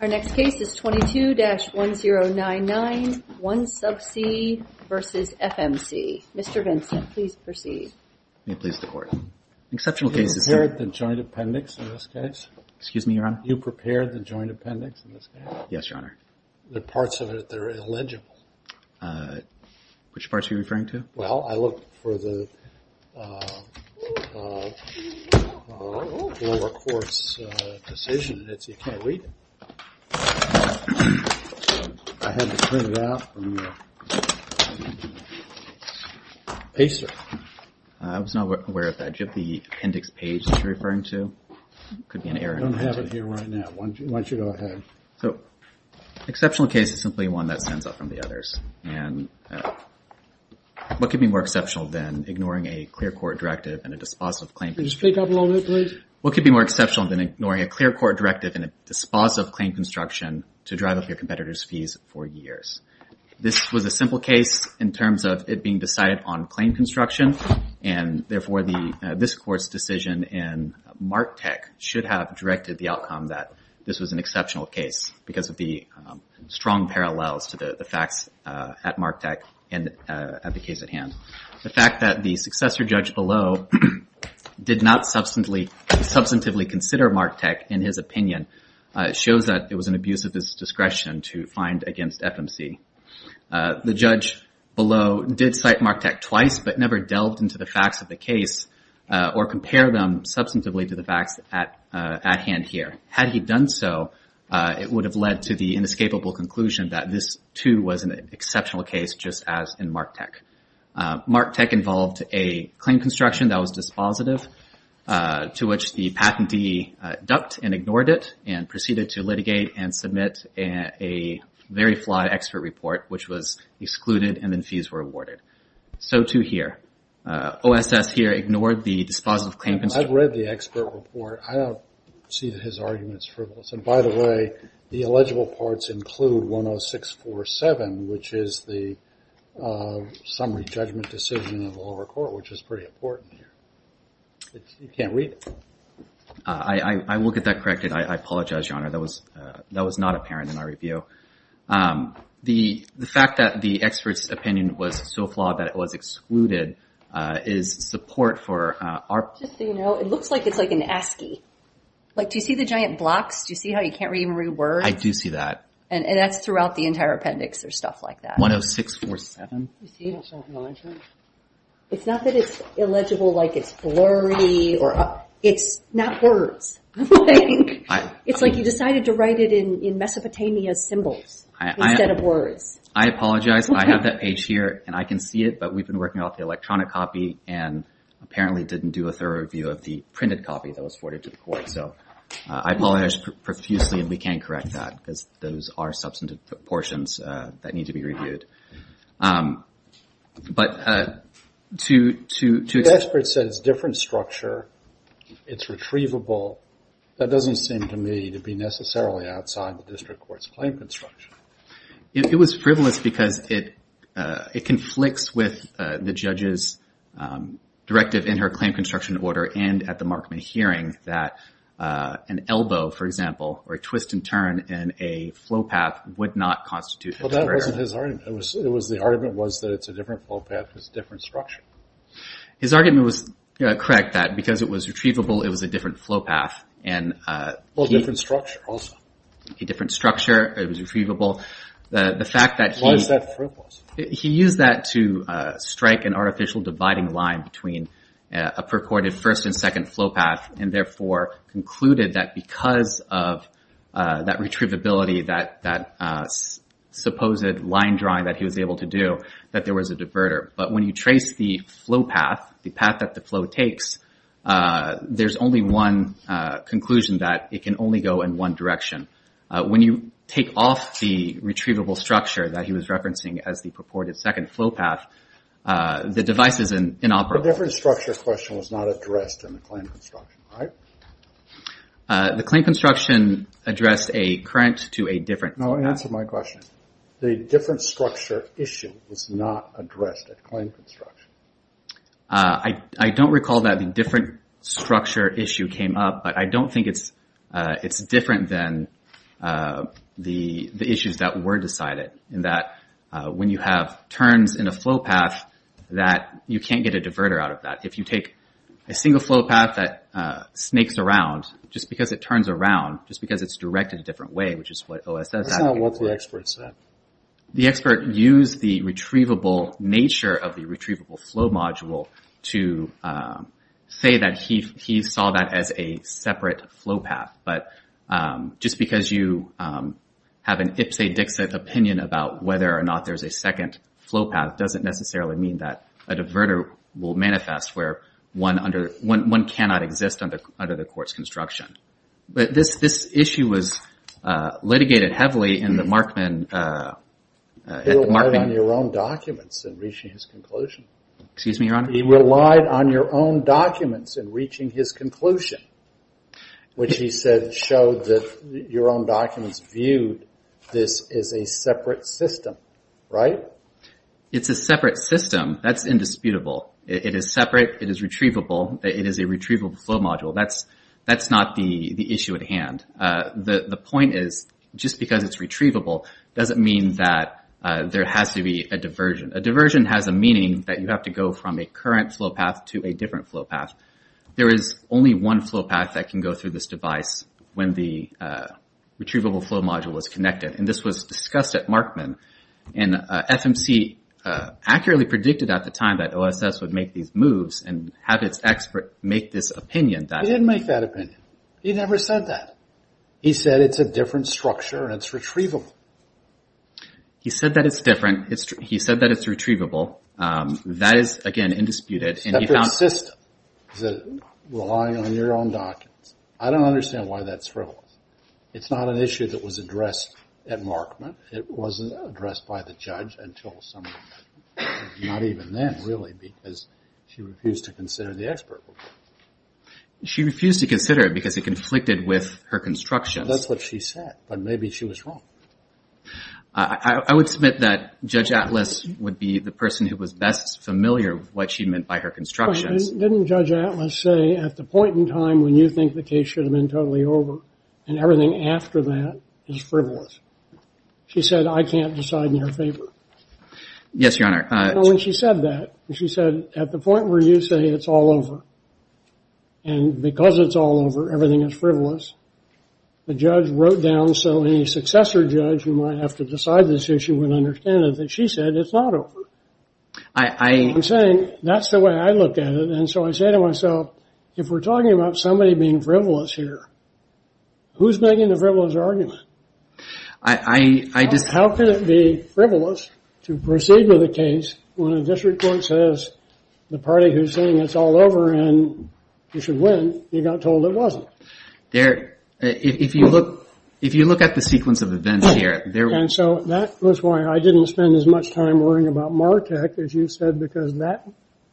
Our next case is 22-1099, 1Subsea v. FMC. Mr. Vincent, please proceed. May it please the Court. Exceptional cases. Did you prepare the joint appendix in this case? Excuse me, Your Honor? Did you prepare the joint appendix in this case? Yes, Your Honor. The parts of it, they're illegible. Which parts are you referring to? Well, I looked for the lower court's decision, and it's, you can't read it. I had to print it out from the paster. I was not aware of that. Do you have the appendix page that you're referring to? It could be an error. I don't have it here right now. Why don't you go ahead. So, exceptional case is simply one that stands out from the others. And what could be more exceptional than ignoring a clear court directive and a dispositive claim construction? Could you speak up a little bit, please? What could be more exceptional than ignoring a clear court directive and a dispositive claim construction to drive up your competitor's fees for years? This was a simple case in terms of it being decided on claim construction. And therefore, this Court's decision in Martec should have directed the outcome that this was an exceptional case because of the strong parallels to the facts at Martec and at the case at hand. The fact that the successor judge below did not substantively consider Martec, in his opinion, shows that it was an abuse of his discretion to find against FMC. The judge below did cite Martec twice, but never delved into the facts of the case or compare them substantively to the facts at hand here. Had he done so, it would have led to the inescapable conclusion that this, too, was an exceptional case, just as in Martec. Martec involved a claim construction that was dispositive, to which the patentee ducked and ignored it and proceeded to litigate and submit a very flawed expert report, which was excluded and then fees were awarded. So, too, here. OSS here ignored the dispositive claim construction. I've read the expert report. I don't see that his argument is frivolous. And, by the way, the illegible parts include 10647, which is the summary judgment decision in the lower court, which is pretty important here. You can't read it. I will get that corrected. I apologize, Your Honor. That was not apparent in our review. The fact that the expert's opinion was so flawed that it was excluded is support for our- Just so you know, it looks like it's like an ASCII. Like, do you see the giant blocks? Do you see how you can't even read words? I do see that. And that's throughout the entire appendix. There's stuff like that. 10647. You see it's not illegible? It's not that it's illegible, like it's blurry. It's not words. It's like you decided to write it in Mesopotamia symbols instead of words. I apologize. I have that page here, and I can see it, but we've been working off the electronic copy and apparently didn't do a thorough review of the printed copy that was forwarded to the court. So I apologize profusely, and we can't correct that because those are substantive proportions that need to be reviewed. But to- The expert said it's a different structure. It's retrievable. That doesn't seem to me to be necessarily outside the district court's claim construction. It was frivolous because it conflicts with the judge's directive in her claim construction order and at the Markman hearing that an elbow, for example, or a twist and turn in a flow path would not constitute- Well, that wasn't his argument. The argument was that it's a different flow path. It's a different structure. His argument was correct that because it was retrievable, it was a different flow path. Well, a different structure also. A different structure. It was retrievable. The fact that he- Why is that frivolous? He used that to strike an artificial dividing line between a purported first and second flow path and therefore concluded that because of that retrievability, that supposed line drawing that he was able to do, that there was a diverter. But when you trace the flow path, the path that the flow takes, there's only one conclusion that it can only go in one direction. When you take off the retrievable structure that he was referencing as the purported second flow path, the device is inoperable. So a different structure question was not addressed in the claim construction, right? The claim construction addressed a current to a different- No, answer my question. The different structure issue was not addressed at claim construction. I don't recall that the different structure issue came up, but I don't think it's different than the issues that were decided, in that when you have turns in a flow path that you can't get a diverter out of that. If you take a single flow path that snakes around, just because it turns around, just because it's directed a different way, which is what OSS- That's not what the expert said. The expert used the retrievable nature of the retrievable flow module to say that he saw that as a separate flow path. But just because you have an ipsa dicsa opinion about whether or not there's a second flow path doesn't necessarily mean that a diverter will manifest where one cannot exist under the court's construction. But this issue was litigated heavily in the Markman- He relied on your own documents in reaching his conclusion. Excuse me, Your Honor? That showed that your own documents viewed this as a separate system, right? It's a separate system. That's indisputable. It is separate. It is retrievable. It is a retrievable flow module. That's not the issue at hand. The point is, just because it's retrievable doesn't mean that there has to be a diversion. A diversion has a meaning that you have to go from a current flow path to a different flow path. There is only one flow path that can go through this device when the retrievable flow module is connected. And this was discussed at Markman. And FMC accurately predicted at the time that OSS would make these moves and have its expert make this opinion. He didn't make that opinion. He never said that. He said it's a different structure and it's retrievable. He said that it's different. He said that it's retrievable. That is, again, indisputed. It's a separate system. It's relying on your own documents. I don't understand why that's frivolous. It's not an issue that was addressed at Markman. It wasn't addressed by the judge until some time. Not even then, really, because she refused to consider the expert opinion. She refused to consider it because it conflicted with her constructions. That's what she said, but maybe she was wrong. I would submit that Judge Atlas would be the person who was best familiar with what she meant by her constructions. Didn't Judge Atlas say, at the point in time when you think the case should have been totally over and everything after that is frivolous, she said, I can't decide in your favor? Yes, Your Honor. When she said that, she said, at the point where you say it's all over, and because it's all over, everything is frivolous, the judge wrote down so a successor judge who might have to decide this issue would understand it, that she said it's not over. I'm saying that's the way I look at it, and so I say to myself, if we're talking about somebody being frivolous here, who's making the frivolous argument? How could it be frivolous to proceed with a case when a district court says, the party who's saying it's all over and you should win, you got told it wasn't? If you look at the sequence of events here... And so that was why I didn't spend as much time worrying about Martek as you said, because that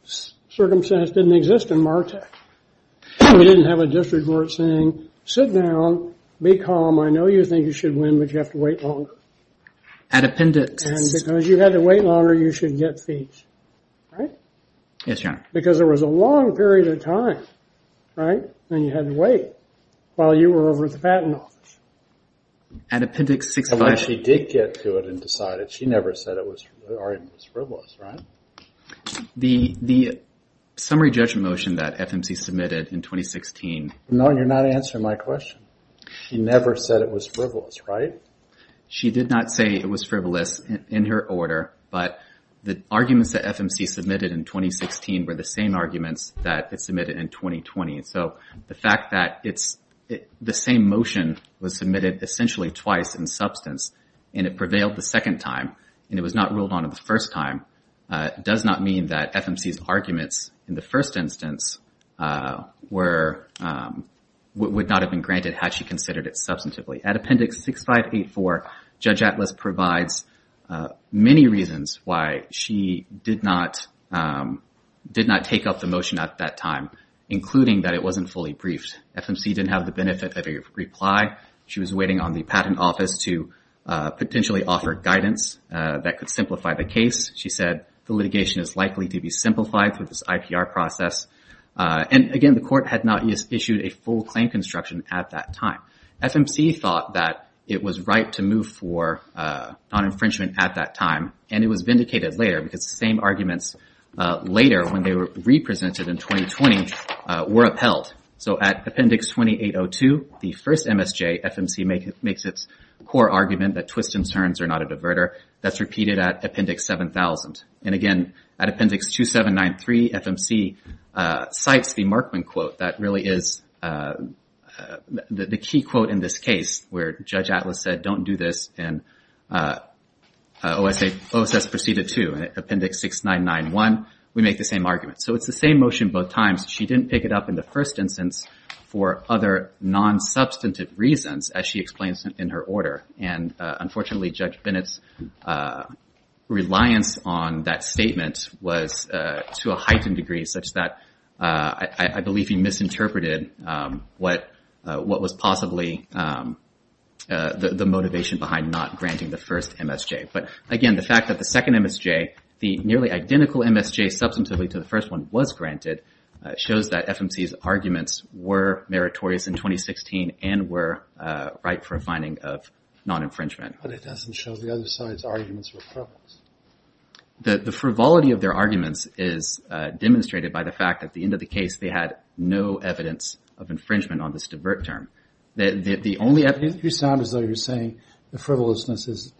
circumstance didn't exist in Martek. We didn't have a district court saying, sit down, be calm, I know you think you should win, but you have to wait longer. Adependence. And because you had to wait longer, you should get feet, right? Yes, Your Honor. Because there was a long period of time, right? And you had to wait while you were over at the patent office. At Appendix 65... But she did get to it and decided. She never said it was frivolous, right? The summary judgment motion that FMC submitted in 2016... No, you're not answering my question. She never said it was frivolous, right? She did not say it was frivolous in her order, but the arguments that FMC submitted in 2016 were the same arguments that it submitted in 2020. So the fact that the same motion was submitted essentially twice in substance and it prevailed the second time and it was not ruled on the first time does not mean that FMC's arguments in the first instance would not have been granted had she considered it substantively. At Appendix 6584, Judge Atlas provides many reasons why she did not take up the motion at that time, including that it wasn't fully briefed. FMC didn't have the benefit of a reply. She was waiting on the patent office to potentially offer guidance that could simplify the case. She said the litigation is likely to be simplified through this IPR process. And again, the court had not issued a full claim construction at that time. FMC thought that it was right to move for non-infringement at that time and it was vindicated later because the same arguments later when they were represented in 2020 were upheld. So at Appendix 2802, the first MSJ, FMC makes its core argument that twists and turns are not a diverter. That's repeated at Appendix 7000. And again, at Appendix 2793, FMC cites the Markman quote that really is the key quote in this case where Judge Atlas said, don't do this. And OSS proceeded too. At Appendix 6991, we make the same argument. So it's the same motion both times. She didn't pick it up in the first instance for other non-substantive reasons, as she explains in her order. And unfortunately, Judge Bennett's reliance on that statement was to a heightened degree such that I believe he misinterpreted what was possibly the motivation behind not granting the first MSJ. But again, the fact that the second MSJ, the nearly identical MSJ substantively to the first one, was granted shows that FMC's arguments were meritorious in 2016 and were right for a finding of non-infringement. But it doesn't show the other side's arguments were correct. The frivolity of their arguments is demonstrated by the fact that at the end of the case, they had no evidence of infringement on this divert term. The only evidence- You sound as though you're saying the frivolousness is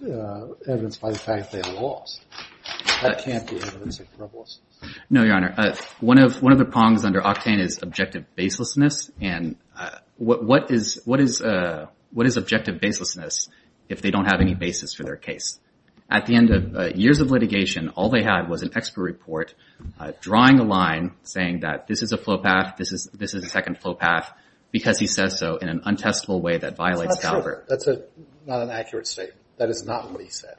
evidenced by the fact they lost. That can't be evidence of frivolousness. No, Your Honor. One of the prongs under Octane is objective baselessness. And what is objective baselessness if they don't have any basis for their case? At the end of years of litigation, all they had was an expert report drawing a line saying that this is a flow path, this is a second flow path, because he says so in an untestable way that violates- That's not true. That's not an accurate statement. That is not what he said.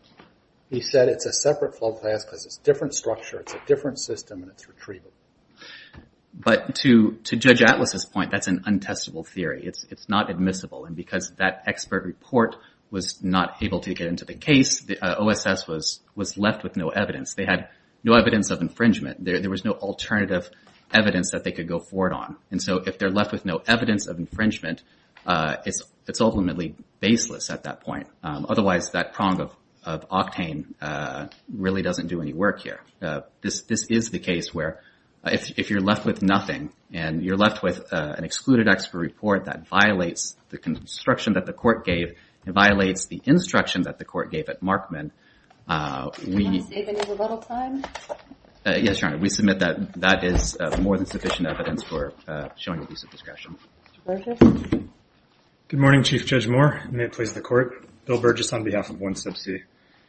He said it's a separate flow path because it's a different structure, it's a different system, and it's retrievable. But to Judge Atlas' point, that's an untestable theory. It's not admissible. And because that expert report was not able to get into the case, the OSS was left with no evidence. They had no evidence of infringement. There was no alternative evidence that they could go forward on. And so if they're left with no evidence of infringement, it's ultimately baseless at that point. Otherwise, that prong of Octane really doesn't do any work here. This is the case where if you're left with nothing and you're left with an excluded expert report that violates the construction that the court gave, it violates the instruction that the court gave at Markman, we- Do you want to save any rebuttal time? Yes, Your Honor. We submit that that is more than sufficient evidence for showing abuse of discretion. Mr. Burgess. Good morning, Chief Judge Moore. May it please the Court. Bill Burgess on behalf of 1C.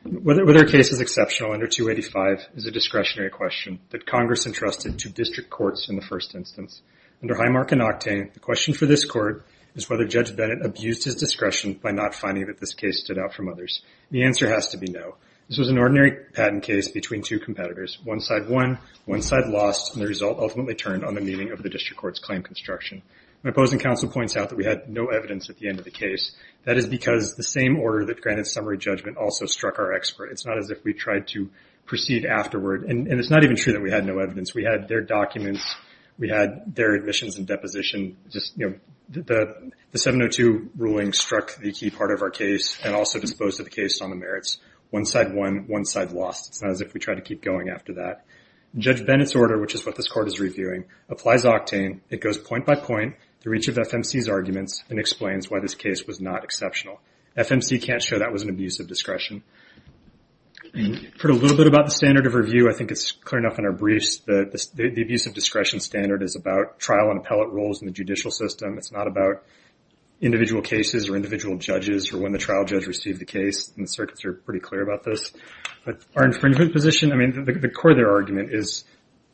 Whether a case is exceptional under 285 is a discretionary question that Congress entrusted to district courts in the first instance. Under Highmark and Octane, the question for this court is whether Judge Bennett abused his discretion by not finding that this case stood out from others. The answer has to be no. This was an ordinary patent case between two competitors. One side won, one side lost, and the result ultimately turned on the meaning of the district court's claim construction. My opposing counsel points out that we had no evidence at the end of the case. That is because the same order that granted summary judgment also struck our expert. It's not as if we tried to proceed afterward. And it's not even true that we had no evidence. We had their documents. We had their admissions and deposition. The 702 ruling struck the key part of our case and also disposed of the case on the merits. One side won, one side lost. It's not as if we tried to keep going after that. Judge Bennett's order, which is what this court is reviewing, applies Octane. It goes point by point through each of FMC's arguments and explains why this case was not exceptional. FMC can't show that was an abuse of discretion. You've heard a little bit about the standard of review. I think it's clear enough in our briefs that the abuse of discretion standard is about trial and appellate roles in the judicial system. It's not about individual cases or individual judges or when the trial judge received the case. The circuits are pretty clear about this. Our infringement position, the core of their argument is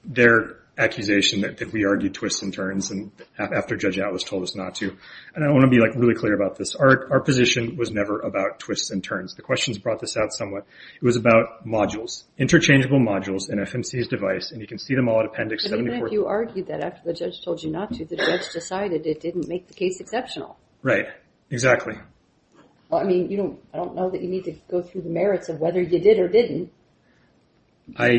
their accusation that we argued twists and turns after Judge Atlas told us not to. I want to be really clear about this. Our position was never about twists and turns. The questions brought this out somewhat. It was about modules, interchangeable modules in FMC's device. You can see them all at Appendix 74. But you argued that after the judge told you not to, the judge decided it didn't make the case exceptional. Right, exactly. I don't know that you need to go through the merits of whether you did or didn't. I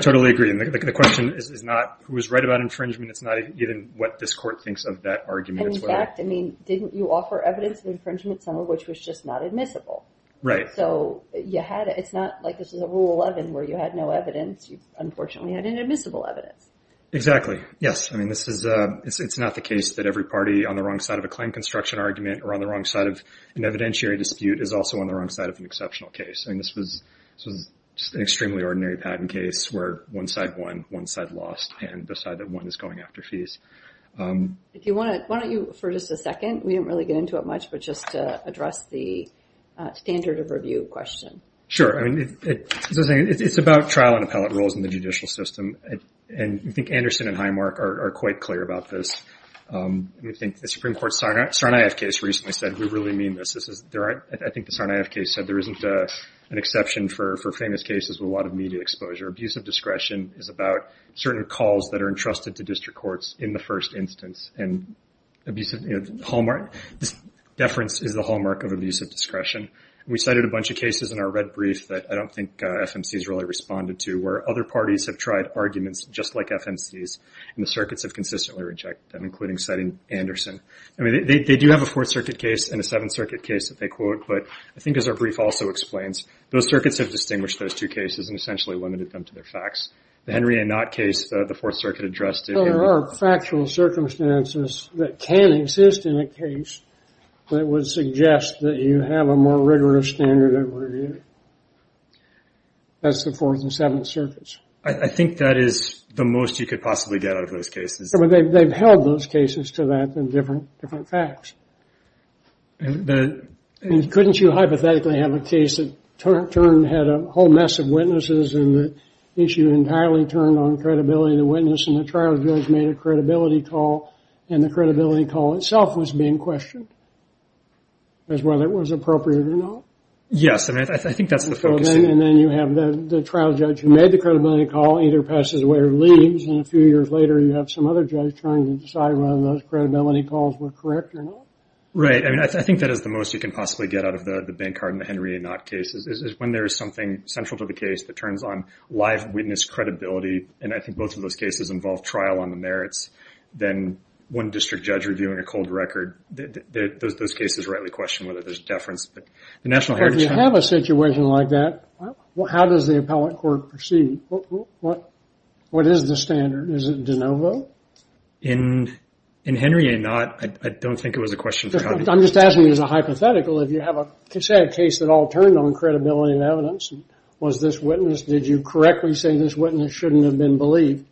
totally agree. The question is not who was right about infringement. It's not even what this court thinks of that argument. In fact, didn't you offer evidence of infringement, some of which was just not admissible? Right. It's not like this is a Rule 11 where you had no evidence. You, unfortunately, had inadmissible evidence. Exactly. Yes. I mean, it's not the case that every party on the wrong side of a claim construction argument or on the wrong side of an evidentiary dispute is also on the wrong side of an exceptional case. I mean, this was an extremely ordinary patent case where one side won, one side lost, and the side that won is going after fees. Why don't you, for just a second, we didn't really get into it much, but just to address the standard of review question. Sure. It's about trial and appellate rules in the judicial system, and I think Anderson and Highmark are quite clear about this. I think the Supreme Court Sarnaev case recently said, we really mean this. I think the Sarnaev case said there isn't an exception for famous cases with a lot of media exposure. Abusive discretion is about certain calls that are entrusted to district courts in the first instance, and deference is the hallmark of abusive discretion. We cited a bunch of cases in our red brief that I don't think FMCs really responded to where other parties have tried arguments just like FMCs, and the circuits have consistently rejected them, including citing Anderson. I mean, they do have a Fourth Circuit case and a Seventh Circuit case that they quote, but I think as our brief also explains, those circuits have distinguished those two cases and essentially limited them to their facts. The Henry A. Knott case, the Fourth Circuit addressed it. There are factual circumstances that can exist in a case that would suggest that you have a more rigorous standard of review. That's the Fourth and Seventh Circuits. I think that is the most you could possibly get out of those cases. They've held those cases to that in different facts. Couldn't you hypothetically have a case that had a whole mess of witnesses and the issue entirely turned on credibility of the witness and the trial judge made a credibility call and the credibility call itself was being questioned as whether it was appropriate or not? Yes, I think that's the focus. And then you have the trial judge who made the credibility call either passes away or leaves, and a few years later you have some other judge trying to decide whether those credibility calls were correct or not? Right, I mean, I think that is the most you can possibly get out of the Bancard and the Henry A. Knott cases is when there is something central to the case that turns on live witness credibility, and I think both of those cases involve trial on the merits, then one district judge reviewing a cold record, those cases rightly question whether there is deference. If you have a situation like that, how does the appellate court proceed? What is the standard? Is it de novo? In Henry A. Knott, I don't think it was a question of... I'm just asking you as a hypothetical, if you have a case that all turned on credibility of evidence, was this witness, did you correctly say this witness shouldn't have been believed?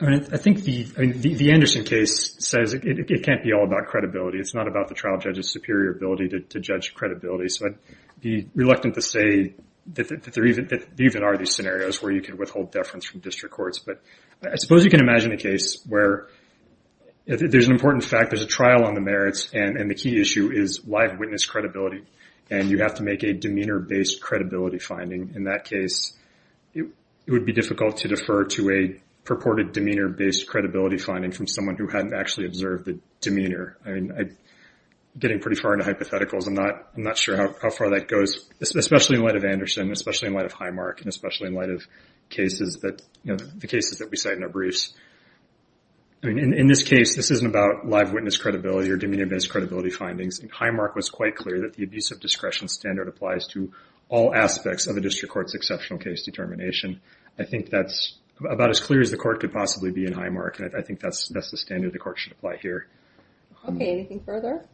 I think the Anderson case says it can't be all about credibility. It's not about the trial judge's superior ability to judge credibility, so I'd be reluctant to say that there even are these scenarios where you can withhold deference from district courts, but I suppose you can imagine a case where there's an important fact, there's a trial on the merits, and the key issue is live witness credibility, and you have to make a demeanor-based credibility finding. In that case, it would be difficult to defer to a purported demeanor-based credibility finding from someone who hadn't actually observed the demeanor. I'm getting pretty far into hypotheticals. I'm not sure how far that goes, especially in light of Anderson, especially in light of Highmark, and especially in light of the cases that we cite in our briefs. In this case, this isn't about live witness credibility or demeanor-based credibility findings. Highmark was quite clear that the abuse of discretion standard applies to all aspects of a district court's exceptional case determination. I think that's about as clear as the court could possibly be in Highmark, and I think that's the standard the court should apply here. Okay, anything further?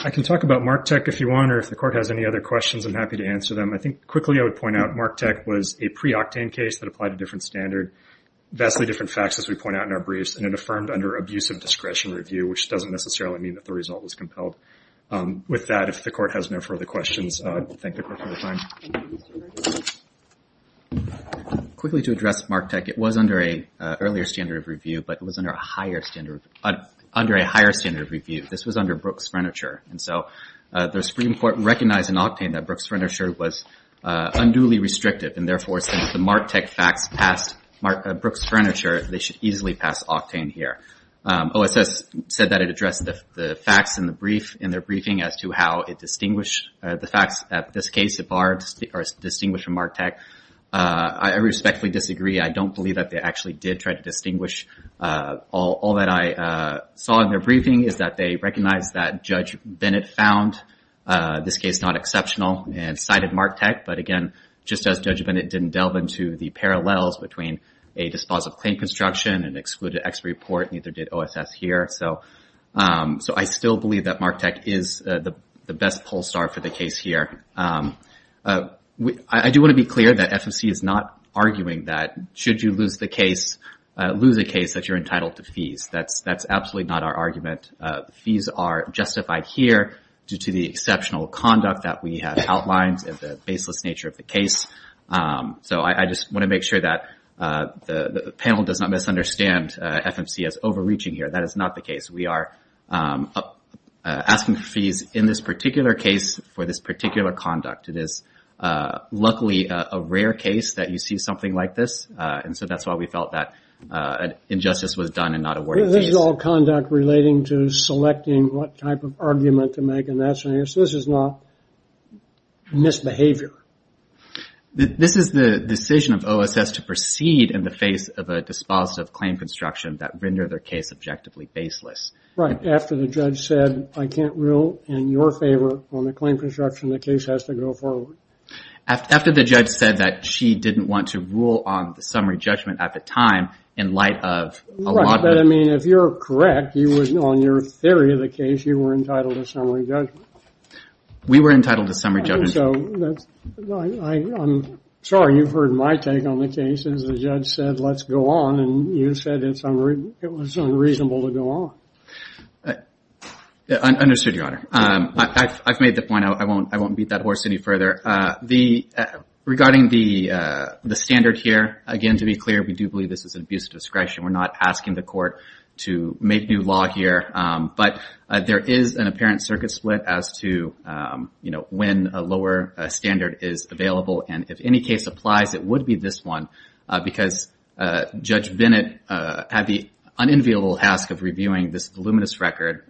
I can talk about Marktech if you want, or if the court has any other questions, I'm happy to answer them. I think quickly I would point out Marktech was a pre-Octane case that applied a different standard, vastly different facts, as we point out in our briefs, which doesn't necessarily mean that the result was compelled. With that, if the court has no further questions, I'll thank the court for their time. Quickly to address Marktech, it was under an earlier standard of review, but it was under a higher standard of review. This was under Brooks Furniture, and so the Supreme Court recognized in Octane that Brooks Furniture was unduly restrictive, and therefore since the Marktech facts passed Brooks Furniture, they should easily pass Octane here. OSS said that it addressed the facts in their briefing as to how it distinguished the facts. At this case, it distinguished from Marktech. I respectfully disagree. I don't believe that they actually did try to distinguish. All that I saw in their briefing is that they recognized that Judge Bennett found this case not exceptional and cited Marktech, but again, just as Judge Bennett didn't delve into the parallels between a dispositive claim construction, an excluded ex report, and neither did OSS here. So I still believe that Marktech is the best poll star for the case here. I do want to be clear that FFC is not arguing that should you lose a case that you're entitled to fees. That's absolutely not our argument. Fees are justified here due to the exceptional conduct that we had outlined and the baseless nature of the case. So I just want to make sure that the panel does not misunderstand FFC as overreaching here. That is not the case. We are asking fees in this particular case for this particular conduct. It is luckily a rare case that you see something like this, and so that's why we felt that injustice was done and not awarded fees. So this is not misbehavior. This is the decision of OSS to proceed in the face of a dispositive claim construction that rendered their case objectively baseless. Right, after the judge said, I can't rule in your favor on the claim construction, the case has to go forward. After the judge said that she didn't want to rule on the summary judgment at the time in light of a lot of... Right, but I mean, if you're correct, on your theory of the case, you were entitled to summary judgment. We were entitled to summary judgment. I'm sorry, you've heard my take on the case. The judge said, let's go on, and you said it was unreasonable to go on. Understood, Your Honor. I've made the point. I won't beat that horse any further. Regarding the standard here, again, to be clear, we do believe this is an abuse of discretion. We're not asking the court to make new law here, but there is an apparent circuit split as to, you know, when a lower standard is available, and if any case applies, it would be this one because Judge Bennett had the unenviable task of reviewing this voluminous record.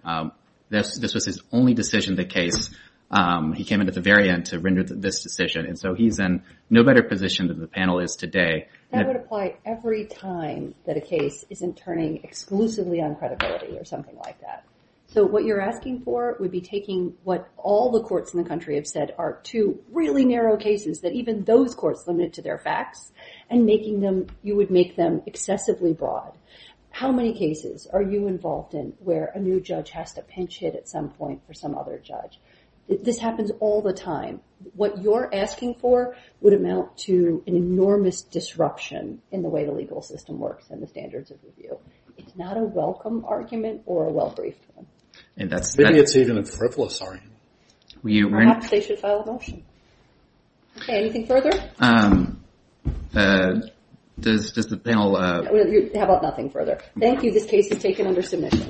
This was his only decision in the case. He came in at the very end to render this decision, and so he's in no better position than the panel is today. That would apply every time that a case isn't turning exclusively on credibility or something like that. So what you're asking for would be taking what all the courts in the country have said are two really narrow cases that even those courts limit to their facts and making them, you would make them excessively broad. How many cases are you involved in where a new judge has to pinch hit at some point for some other judge? This happens all the time. What you're asking for would amount to an enormous disruption in the way the legal system works and the standards of review. It's not a welcome argument or a well-briefed one. Maybe it's even a frivolous argument. Perhaps they should file a motion. Okay, anything further? How about nothing further? Thank you. This case is taken under submission.